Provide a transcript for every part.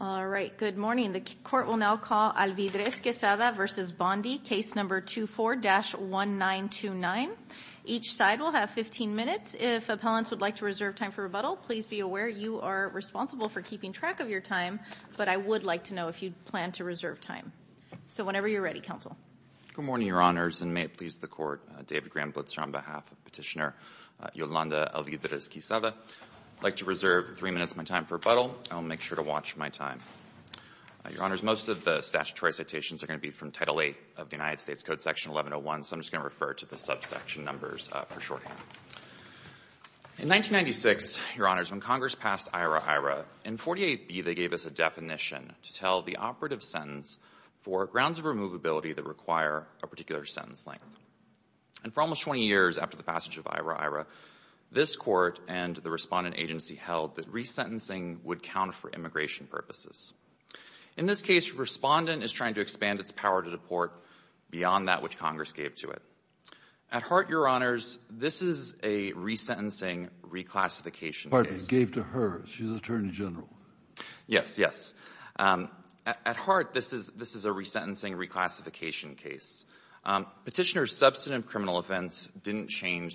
All right, good morning. The Court will now call Alvidrez Quezada v. Bondi, case number 24-1929. Each side will have 15 minutes. If appellants would like to reserve time for rebuttal, please be aware you are responsible for keeping track of your time, but I would like to know if you plan to reserve time. So whenever you're ready, Counsel. Good morning, Your Honors, and may it please the Court. David Graham Blitzer on behalf of Petitioner Yolanda Alvidrez Quezada. I'd like to reserve three minutes of my time for rebuttal. I'll make sure to watch my time. Your Honors, most of the statutory citations are going to be from Title VIII of the United States Code, Section 1101, so I'm just going to refer to the subsection numbers for short. In 1996, Your Honors, when Congress passed IRA-IRA, in 48B they gave us a definition to tell the operative sentence for grounds of removability that require a particular sentence length. And for almost 20 years after the passage of IRA-IRA, this Court and the Respondent Agency held that resentencing would count for immigration purposes. In this case, Respondent is trying to expand its power to deport beyond that which Congress gave to it. At heart, Your Honors, this is a resentencing reclassification case. Kennedy. Pardon me. Gave to her. She's Attorney General. Yes. Yes. At heart, this is a resentencing reclassification case. Petitioner's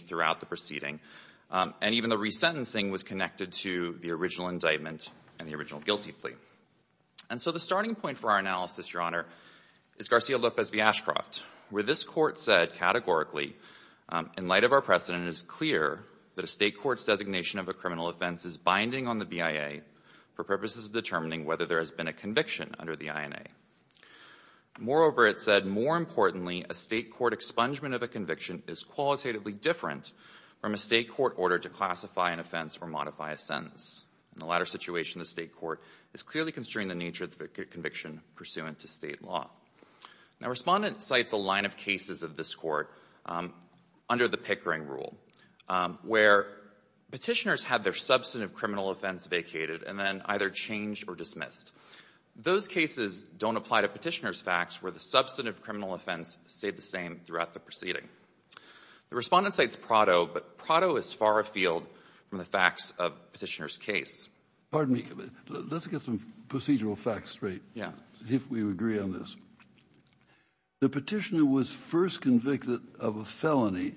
throughout the proceeding. And even the resentencing was connected to the original indictment and the original guilty plea. And so the starting point for our analysis, Your Honor, is Garcia-Lopez v. Ashcroft, where this Court said categorically, in light of our precedent, it is clear that a state court's designation of a criminal offense is binding on the BIA for purposes of determining whether there has been a conviction under the INA. Moreover, it said, more importantly, a state court expungement of a conviction is qualitatively different from a state court order to classify an offense or modify a sentence. In the latter situation, the state court is clearly constrained in the nature of the conviction pursuant to state law. Now, Respondent cites a line of cases of this Court under the Pickering rule where Petitioners had their substantive criminal offense vacated and then either changed or dismissed. Those cases don't apply to Petitioner's facts where the substantive offense stayed the same throughout the proceeding. The Respondent cites Prado, but Prado is far afield from the facts of Petitioner's case. Kennedy. Pardon me. Let's get some procedural facts straight. Zinke. Yeah. Kennedy. If we agree on this. The Petitioner was first convicted of a felony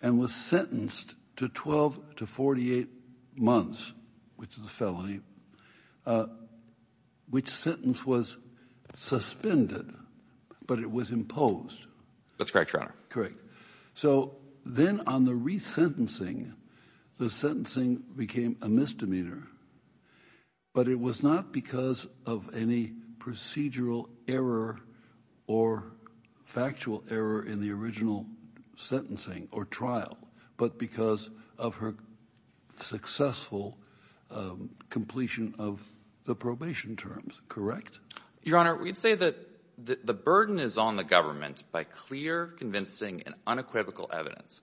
and was sentenced to 12 to 48 months, which is a felony, which sentence was suspended but it was imposed. Zinke. That's correct, Your Honor. Kennedy. Correct. So then on the resentencing, the sentencing became a misdemeanor, but it was not because of any procedural error or factual error in the original sentencing or trial, but because of her successful completion of the probation terms. Correct? Your Honor, we'd say that the burden is on the government by clear, convincing, and unequivocal evidence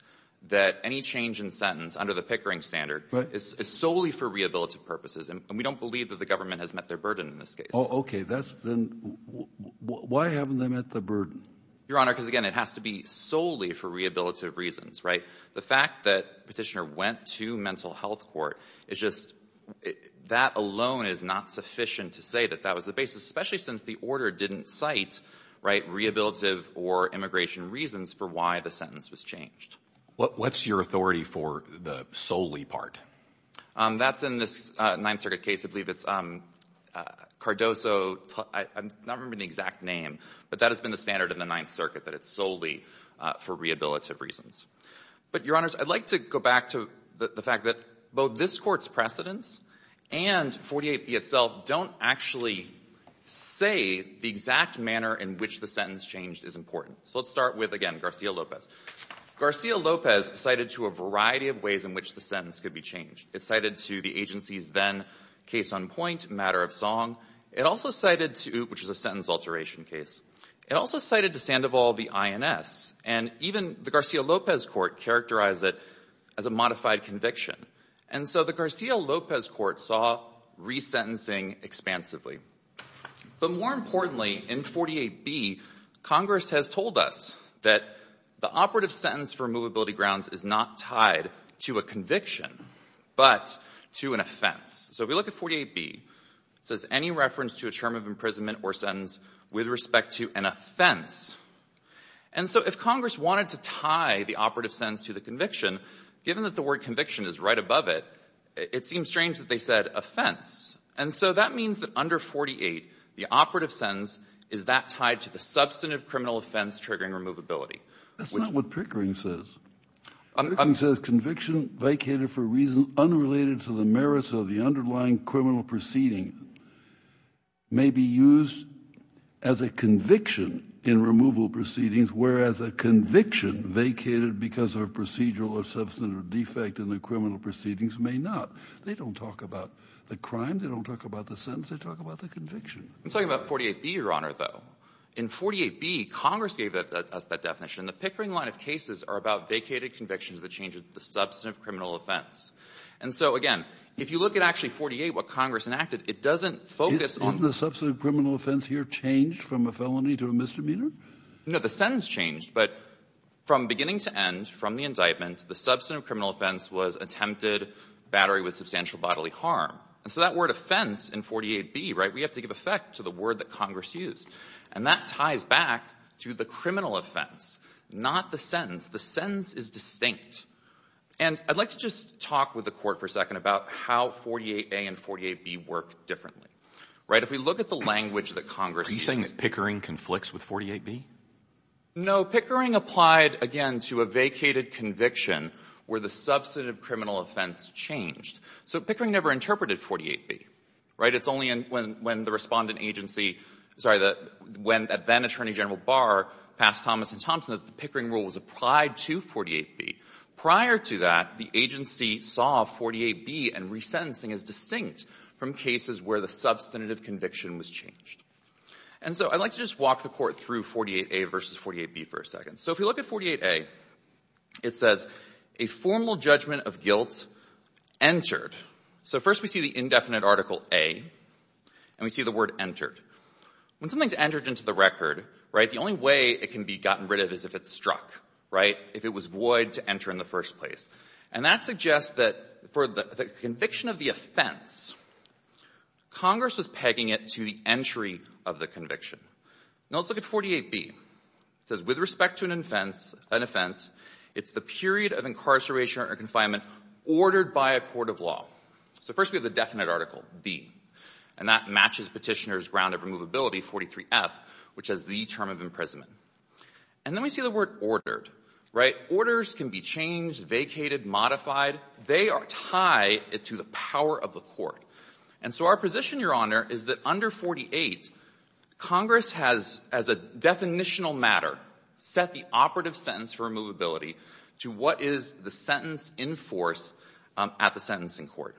that any change in sentence under the Pickering standard is solely for rehabilitative purposes, and we don't believe that the government has met their burden in this case. Kennedy. Oh, okay. Then why haven't they met the burden? Zinke. Your Honor, because again, it has to be solely for rehabilitative reasons, right? The fact that Petitioner went to mental health court is just, that alone is not sufficient to say that that was the basis, especially since the order didn't cite, right, rehabilitative or immigration reasons for why the sentence was changed. What's your authority for the solely part? That's in this Ninth Circuit case, I believe it's Cardoso, I'm not remembering the exact name, but that has been the standard in the Ninth Circuit, that it's solely for rehabilitative reasons. But, Your Honors, I'd like to go back to the fact that both this Court's precedence and 48B itself don't actually say the exact manner in which the sentence changed is important. So let's start with, again, Garcia-Lopez. Garcia-Lopez cited to a variety of ways in which the sentence could be changed. It cited to the agency's then case on point, Matter of Song. It also cited to, which is a sentence alteration case, it also cited to all the INS. And even the Garcia-Lopez Court characterized it as a modified conviction. And so the Garcia-Lopez Court saw resentencing expansively. But more importantly, in 48B, Congress has told us that the operative sentence for movability grounds is not tied to a conviction, but to an offense. So if we look at 48B, it says any reference to a term of imprisonment or sentence with respect to an offense. And so if Congress wanted to tie the operative sentence to the conviction, given that the word conviction is right above it, it seems strange that they said offense. And so that means that under 48, the operative sentence is that tied to the substantive criminal offense triggering removability. Kennedy. That's not what Pickering says. Pickering says conviction vacated for a reason used as a conviction in removal proceedings, whereas a conviction vacated because of a procedural or substantive defect in the criminal proceedings may not. They don't talk about the crime. They don't talk about the sentence. They talk about the conviction. I'm talking about 48B, Your Honor, though. In 48B, Congress gave us that definition. The Pickering line of cases are about vacated convictions that change the substantive criminal offense. And so, again, if you look at actually 48, what Congress enacted, it doesn't focus on the substantive criminal offense. Has the substantive criminal offense here changed from a felony to a misdemeanor? No. The sentence changed. But from beginning to end, from the indictment, the substantive criminal offense was attempted battery with substantial bodily harm. And so that word offense in 48B, right, we have to give effect to the word that Congress used. And that ties back to the criminal offense, not the sentence. The sentence is distinct. And I'd like to just talk with the Court for a second about how 48A and 48B work differently. Right? If we look at the language that Congress used — Are you saying that Pickering conflicts with 48B? No. Pickering applied, again, to a vacated conviction where the substantive criminal offense changed. So Pickering never interpreted 48B. Right? It's only when the Respondent Agency — sorry, when then-Attorney General Barr passed Thomas and Thompson that the Pickering rule was applied to 48B. Prior to that, the agency saw 48B and resentencing as distinct from cases where the substantive conviction was changed. And so I'd like to just walk the Court through 48A versus 48B for a second. So if we look at 48A, it says, a formal judgment of guilt entered. So first we see the indefinite Article A, and we see the word entered. When something's entered into the record, right, the only way it can be gotten rid of is if it's struck. Right? If it was void to enter in the first place. And that suggests that for the conviction of the offense, Congress was pegging it to the entry of the conviction. Now, let's look at 48B. It says, with respect to an offense — an offense, it's the period of incarceration or confinement ordered by a court of law. So first we have the definite Article B, and that matches Petitioner's round of removability, 43F, which is the term of imprisonment. And then we see the word ordered. Right? Orders can be changed, vacated, modified. They are tied to the power of the court. And so our position, Your Honor, is that under 48, Congress has, as a definitional matter, set the operative sentence for removability to what is the sentence in force at the sentencing court.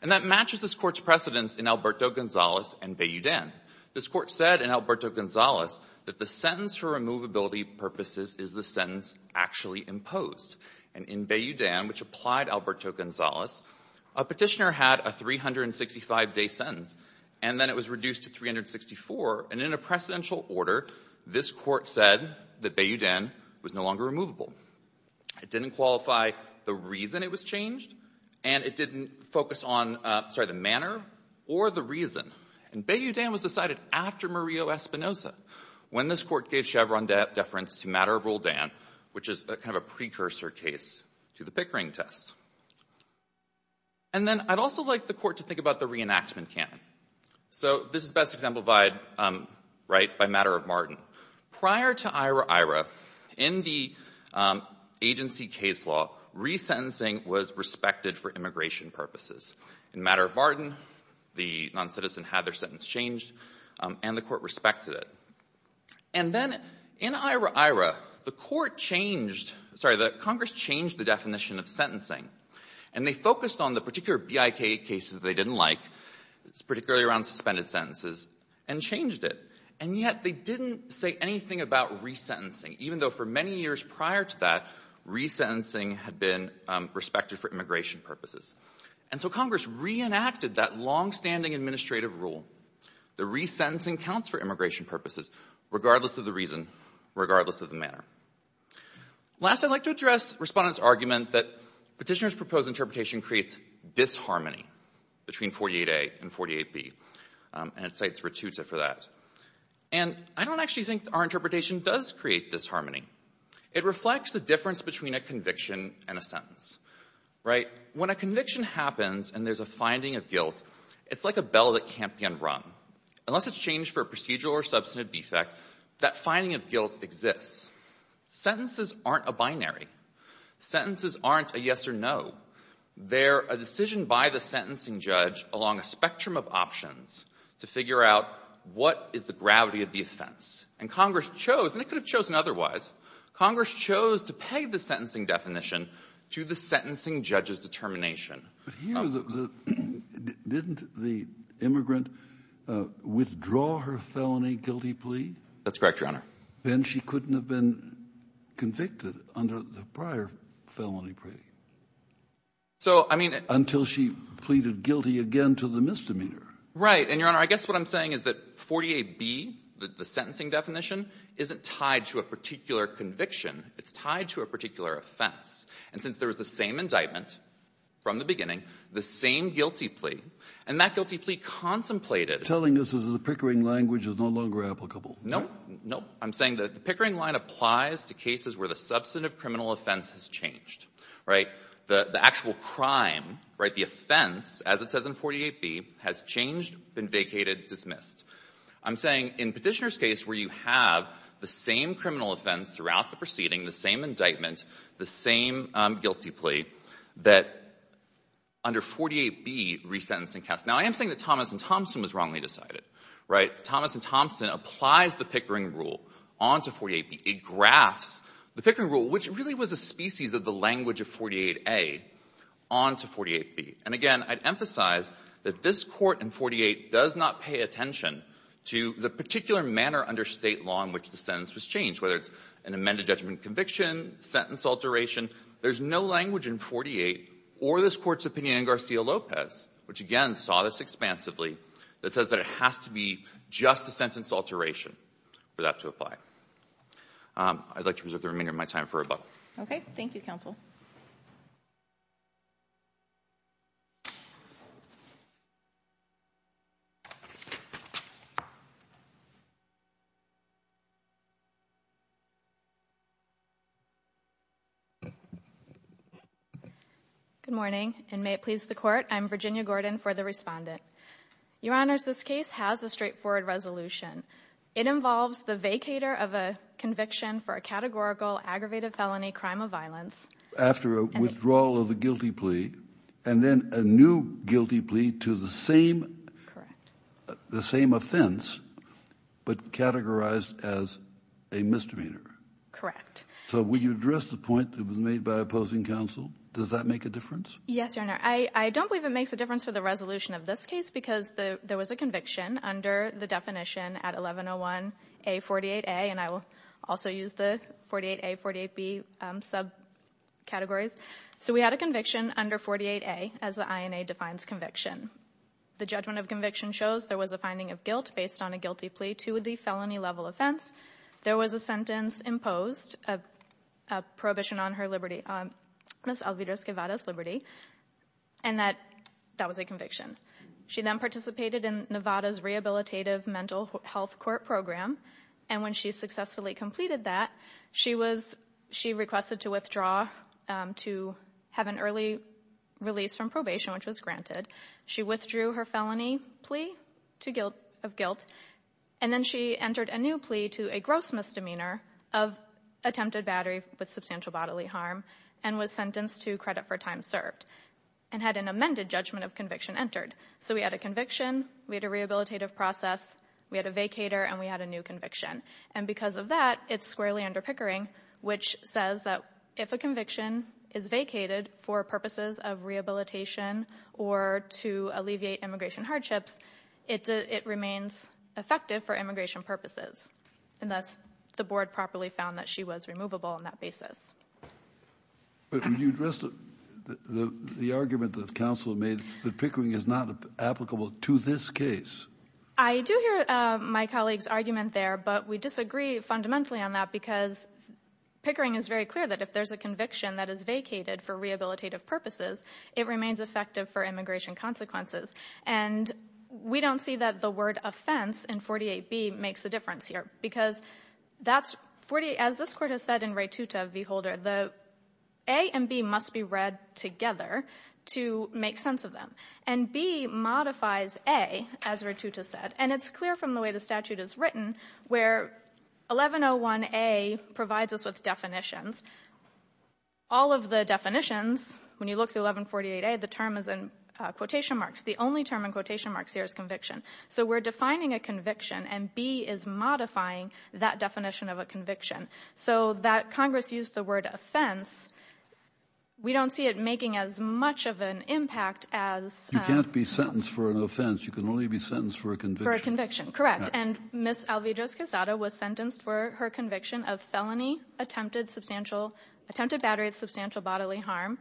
And that matches this Court's precedents in Alberto Gonzalez and Bayoudan. This Court said in Alberto Gonzalez that the sentence for removability purposes is the sentence actually imposed. And in Bayoudan, which applied Alberto Gonzalez, a Petitioner had a 365-day sentence, and then it was reduced to 364. And in a precedential order, this Court said that Bayoudan was no longer removable. It didn't qualify the reason it was changed, and it didn't focus on — sorry — the manner or the nature of the sentence. It was also Espinoza, when this Court gave Chevron deference to Matter of Roldan, which is kind of a precursor case to the Pickering test. And then I'd also like the Court to think about the reenactment canon. So this is best exemplified, right, by Matter of Martin. Prior to Ira-Ira, in the agency case law, resentencing was respected for immigration purposes. In Matter of Martin, the noncitizen had their sentence changed, and the Court respected it. And then in Ira-Ira, the Court changed — sorry, the Congress changed the definition of sentencing, and they focused on the particular BIK cases they didn't like, particularly around suspended sentences, and changed it. And yet they didn't say anything about resentencing, even though for many years prior to that, resentencing had been respected for immigration purposes. And so Congress reenacted that longstanding administrative rule. The resentencing counts for immigration purposes, regardless of the reason, regardless of the manner. Last, I'd like to address Respondent's argument that Petitioner's proposed interpretation creates disharmony between 48A and 48B, and it cites Virtuta for that. And I don't actually think our interpretation does create disharmony. It reflects the difference between a conviction and a sentence. Right? When a conviction happens and there's a finding of guilt, it's like a bell that can't be unrung. Unless it's changed for a procedural or substantive defect, that finding of guilt exists. Sentences aren't a binary. Sentences aren't a yes or no. They're a decision by the sentencing judge along a spectrum of options to figure out what is the gravity of the offense. And Congress chose, and it could have chosen otherwise, Congress chose to peg the sentencing definition to the sentencing judge's determination. But here the — didn't the immigrant withdraw her felony guilty plea? That's correct, Your Honor. Then she couldn't have been convicted under the prior felony plea. So, I mean — Until she pleaded guilty again to the misdemeanor. Right. And, Your Honor, I guess what I'm saying is that 48B, the sentencing definition, isn't tied to a particular conviction. It's tied to a particular offense. And since there was the same indictment from the beginning, the same guilty plea, and that guilty plea contemplated — Telling us that the Pickering language is no longer applicable. Nope. Nope. I'm saying that the Pickering line applies to cases where the substantive criminal offense has changed. Right? The actual crime, right, the offense, as it says in 48B, has changed, been vacated, dismissed. I'm saying in Petitioner's case where you have the same criminal offense throughout the proceeding, the same indictment, the same guilty plea, that under 48B, resentencing counts. Now, I am saying that Thomas and Thompson was wrongly decided. Right? Thomas and Thompson applies the Pickering rule onto 48B. It graphs the Pickering rule, which really was a species of the language of 48A, onto 48B. And again, I'd emphasize that this Court in 48 does not pay attention to the particular manner under State law in which the sentence was changed, whether it's an amended judgment of conviction, sentence alteration. There's no language in 48 or this Court's opinion in Garcia-Lopez, which, again, saw this expansively, that says that it has to be just a sentence alteration for that to apply. I'd like Virginia Gordon. Virginia Gordon. Good morning, and may it please the Court, I'm Virginia Gordon for the Respondent. Your Honors, this case has a straightforward resolution. It involves the vacater of a conviction for a categorical, aggravated felony crime of violence. After a withdrawal of a guilty plea, and then a new guilty plea to the same, the same offense, but categorized as a misdemeanor. Correct. So will you address the point that was made by opposing counsel? Does that make a difference? Yes, Your Honor. I don't believe it makes a difference for the resolution of this case because there was a conviction under the definition at 1101A.48a, and I will also use the 48a, 48b subcategories. So we had a conviction under 48a, as the INA defines conviction. The judgment of conviction shows there was a finding of guilt based on a guilty plea to the felony level offense. There was a sentence imposed, a prohibition on her liberty, Ms. Alvira Esquivada's liberty, and that was a conviction. She then participated in Nevada's Rehabilitative Mental Health Court Program, and when she successfully completed that, she requested to withdraw to have an early release from probation, which was granted. She withdrew her felony plea of guilt, and then she entered a new plea to a gross misdemeanor of attempted battery with substantial bodily harm and was sentenced to credit for time served and had an amended judgment of conviction entered. So we had a conviction, we had a rehabilitative process, we had a vacator, and we had a new conviction. And because of that, it's squarely under Pickering, which says that if a conviction is vacated for purposes of rehabilitation or to alleviate immigration hardships, it remains effective for immigration purposes. And thus the board properly found that she was removable on that basis. But when you address the argument that counsel made that Pickering is not applicable to this case. I do hear my colleague's argument there, but we disagree fundamentally on that because Pickering is very clear that if there's a conviction that is vacated for rehabilitative purposes, it remains effective for immigration consequences. And we don't see that the word offense in 48B makes a difference here because that's, as this Court has said in Ratuta v. Holder, the A and B must be read together to make sense of them. And B modifies A, as Ratuta said, and it's clear from the way the statute is written where 1101A provides us with definitions. All of the definitions, when you look at 1148A, the term is in quotation marks. The only term in quotation marks here is conviction. So we're defining a conviction and B is modifying that definition of a conviction. So that Congress used the word offense, we don't see it making as much of an impact as you can't be sentenced for an offense. You can only be sentenced for a conviction. Correct. And Ms. Alvidrez-Quesada was sentenced for her conviction of felony attempted battery of substantial bodily harm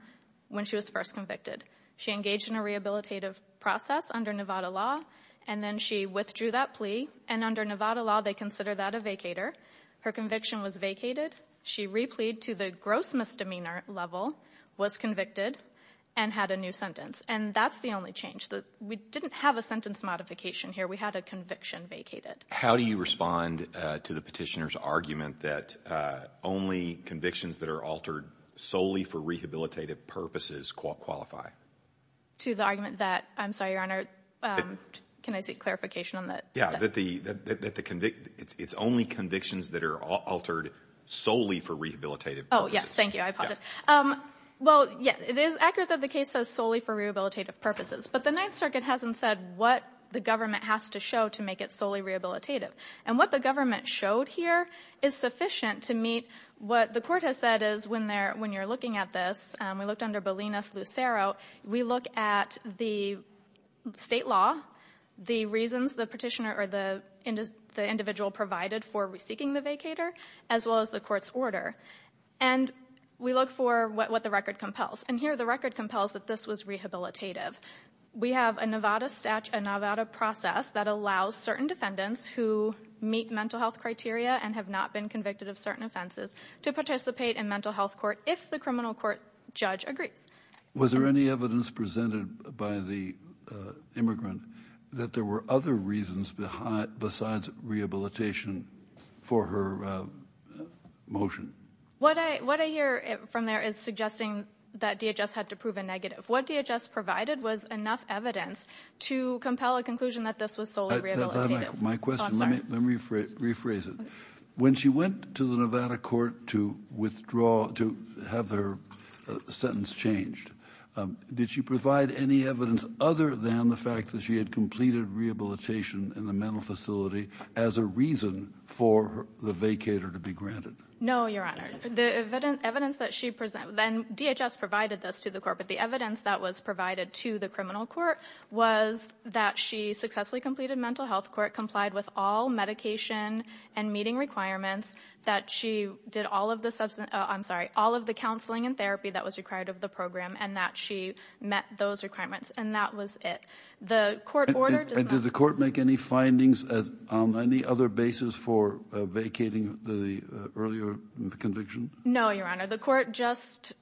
when she was first convicted. She engaged in a rehabilitative process under Nevada law, and then she withdrew that plea. And under Nevada law, they consider that a vacator. Her conviction was vacated. She replied to the gross misdemeanor level, was convicted, and had a new sentence. And that's the only change. We didn't have a sentence modification here. We had a conviction vacated. How do you respond to the petitioner's argument that only convictions that are altered solely for rehabilitative purposes qualify? To the argument that, I'm sorry, Your Honor, can I seek clarification on that? Yeah, that it's only convictions that are altered solely for rehabilitative purposes. But the Ninth Circuit hasn't said what the government has to show to make it solely rehabilitative. And what the government showed here is sufficient to meet what the Court has said is when you're looking at this, we looked under Bolinas-Lucero, we look at the State law, the reasons the petitioner or the individual provided for seeking the vacator, as well as the Court's order. And we look for what the record compels. And here the record compels that this was rehabilitative. We have a Nevada process that allows certain defendants who meet mental health criteria and have not been convicted of certain offenses to participate in mental health court if the criminal court judge agrees. Was there any evidence presented by the immigrant that there were other reasons besides rehabilitation for her motion? What I hear from there is suggesting that DHS had to prove a negative. What DHS provided was enough evidence to compel a conclusion that this was solely rehabilitative. My question, let me rephrase it. When she went to the Nevada court to withdraw, to have her sentence changed, did she provide any evidence other than the fact that she had completed rehabilitation in the mental facility as a reason for the vacator to be granted? No, Your Honor. The evidence that she presented, and DHS provided this to the Court, but the evidence that was provided to the criminal court was that she successfully completed mental health court, complied with all medication and meeting requirements, that she did all of the counseling and therapy that was required of the program, and that she met those requirements. And that was it. Did the Court make any findings on any other basis for vacating the earlier conviction? No, Your Honor. The Court just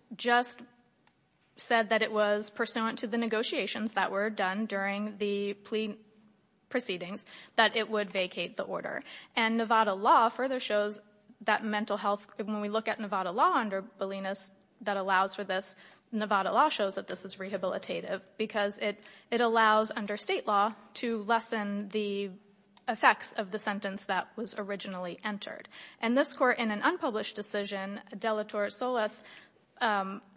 said that it was pursuant to the negotiations that were done during the plea proceedings that it would vacate the order. And Nevada law further shows that mental health, when we look at Nevada law under Bolinas that allows for this, Nevada law shows that this is rehabilitative because it allows under state law to lessen the effects of the sentence that was originally entered. And this Court, in an unpublished decision, Delatorre Solis,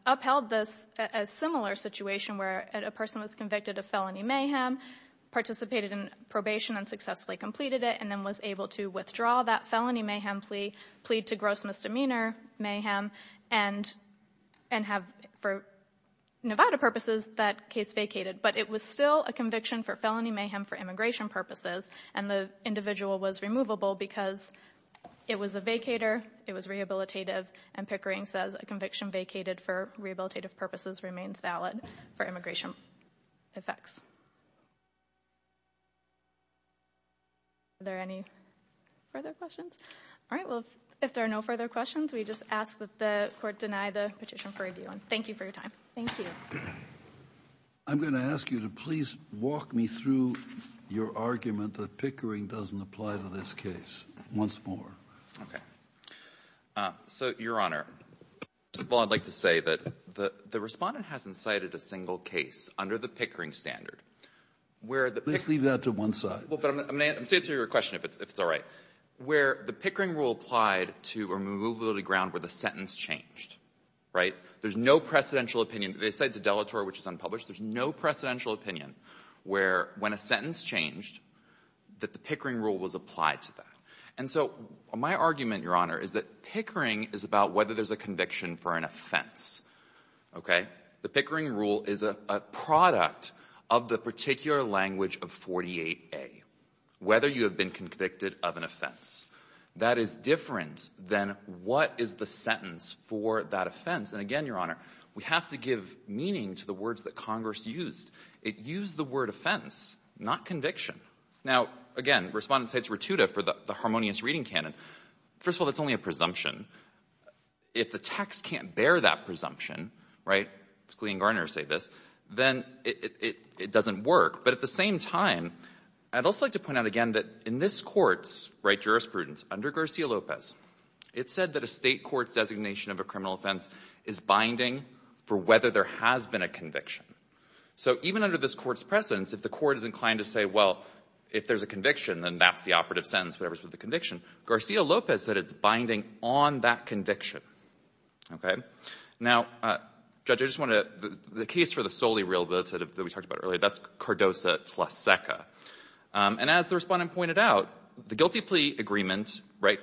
upheld this, a similar situation where a person was convicted of felony mayhem, participated in probation and successfully completed it, and then was able to withdraw that felony mayhem plea, plead to gross misdemeanor mayhem, and have, for Nevada purposes, that case vacated. But it was still a conviction for felony mayhem for immigration purposes, and the individual was removable because it was a vacator, it was rehabilitative, and Pickering says a conviction vacated for rehabilitative purposes remains valid for immigration effects. Are there any further questions? All right. Well, if there are no further questions, we just ask that the Court deny the petition for review. And thank you for your time. Thank you. I'm going to ask you to please walk me through your argument that Pickering doesn't apply to this case once more. Okay. So, Your Honor, first of all, I'd like to say that the Respondent hasn't cited a single case under the Pickering standard where the Pickering rule applied to a removal to the ground where the sentence changed, right? There's no precedential opinion. They cite just one case. There's no precedential opinion where, when a sentence changed, that the Pickering rule was applied to that. And so my argument, Your Honor, is that Pickering is about whether there's a conviction for an offense. Okay? The Pickering rule is a product of the particular language of 48A, whether you have been convicted of an offense. That is different than what is the sentence for that offense. And again, Your Honor, we have to give meaning to the words that Congress used. It used the word offense, not conviction. Now, again, Respondent cites Ratuda for the harmonious reading canon. First of all, that's only a presumption. If the text can't bear that presumption, right, Scalia and Garner say this, then it doesn't work. But at the same time, I'd also like to point out again that in this Court's jurisprudence under Garcia-Lopez, it said that a State court's designation of a criminal offense is binding for whether there has been a conviction. So even under this Court's precedence, if the Court is inclined to say, well, if there's a conviction, then that's the operative sentence, whatever's with the conviction. Garcia-Lopez said it's binding on that conviction. Okay? Now, Judge, I just want to the case for the solely real ability that we talked about earlier. That's Cardoza v. Seca. And as the Respondent pointed out, the guilty plea agreement, right,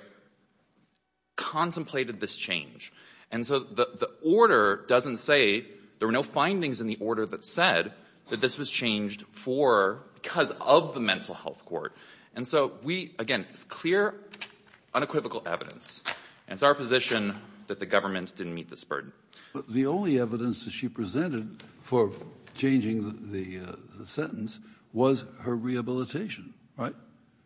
contemplated this change. And so the order doesn't say there were no findings in the order that said that this was changed for because of the mental health court. And so we, again, it's clear, unequivocal evidence. And it's our position that the government didn't meet this burden. But the only evidence that she presented for changing the sentence was her rehabilitation, right?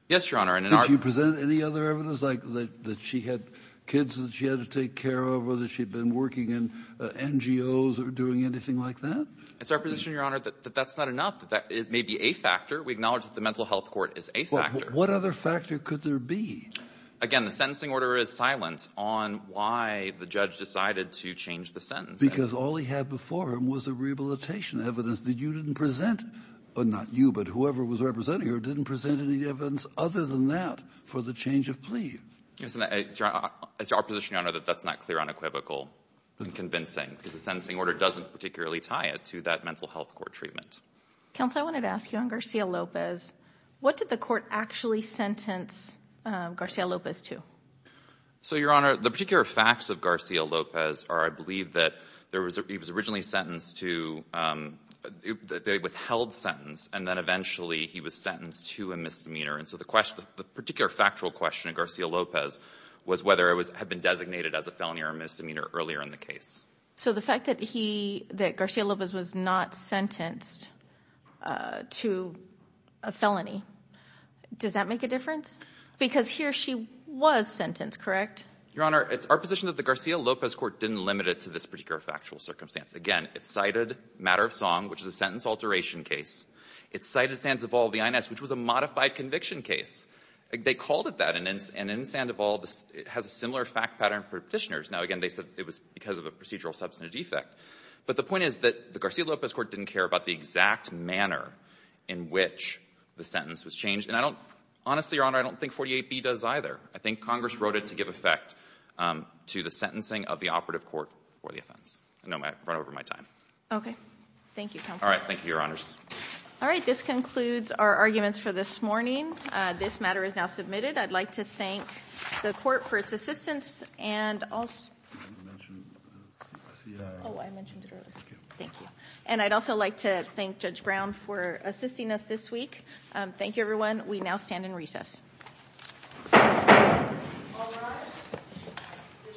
Yes, Your Honor. And in our ---- Did she present any other evidence, like that she had kids that she had to take care of or that she had been working in NGOs or doing anything like that? It's our position, Your Honor, that that's not enough, that it may be a factor. We acknowledge that the mental health court is a factor. But what other factor could there be? Again, the sentencing order is silent on why the judge decided to change the sentence. Because all he had before him was the rehabilitation evidence that you didn't present, or not you, but whoever was representing her, didn't present any evidence other than that for the change of plea. Yes. And it's our position, Your Honor, that that's not clear, unequivocal and convincing, because the sentencing order doesn't particularly tie it to that mental health court treatment. Counsel, I wanted to ask you on Garcia-Lopez. What did the court actually sentence Garcia-Lopez to? So, Your Honor, the particular facts of Garcia-Lopez are, I believe, that there was a ---- he was originally sentenced to ---- they withheld sentence, and then eventually he was sentenced to a misdemeanor. And so the question ---- the particular factual question of Garcia-Lopez was whether it was ---- had been designated as a felony or a misdemeanor earlier in the case. So the fact that he ---- that Garcia-Lopez was not sentenced to a felony, does that make a difference? Because he or she was sentenced, correct? Your Honor, it's our position that the Garcia-Lopez court didn't limit it to this particular factual circumstance. Again, it cited matter of song, which is a sentence alteration case. It cited Sandoval v. Inez, which was a modified conviction case. They called it that. And in Sandoval, it has a similar fact pattern for Petitioners. Now, again, they said it was because of a procedural substantive defect. But the point is that the Garcia-Lopez court didn't care about the exact manner in which the sentence was changed. And I don't ---- honestly, Your Honor, I don't think 48B does either. I think Congress wrote it to give effect to the sentencing of the operative court for the offense. I know I've run over my time. Okay. Thank you, counsel. All right. Thank you, Your Honors. All right. This concludes our arguments for this morning. This matter is now submitted. I'd like to thank the court for its assistance and also ---- You didn't mention the CICI. Oh, I mentioned it earlier. Thank you. And I'd also like to thank Judge Brown for assisting us this week. Thank you, everyone. We now stand in recess. All rise.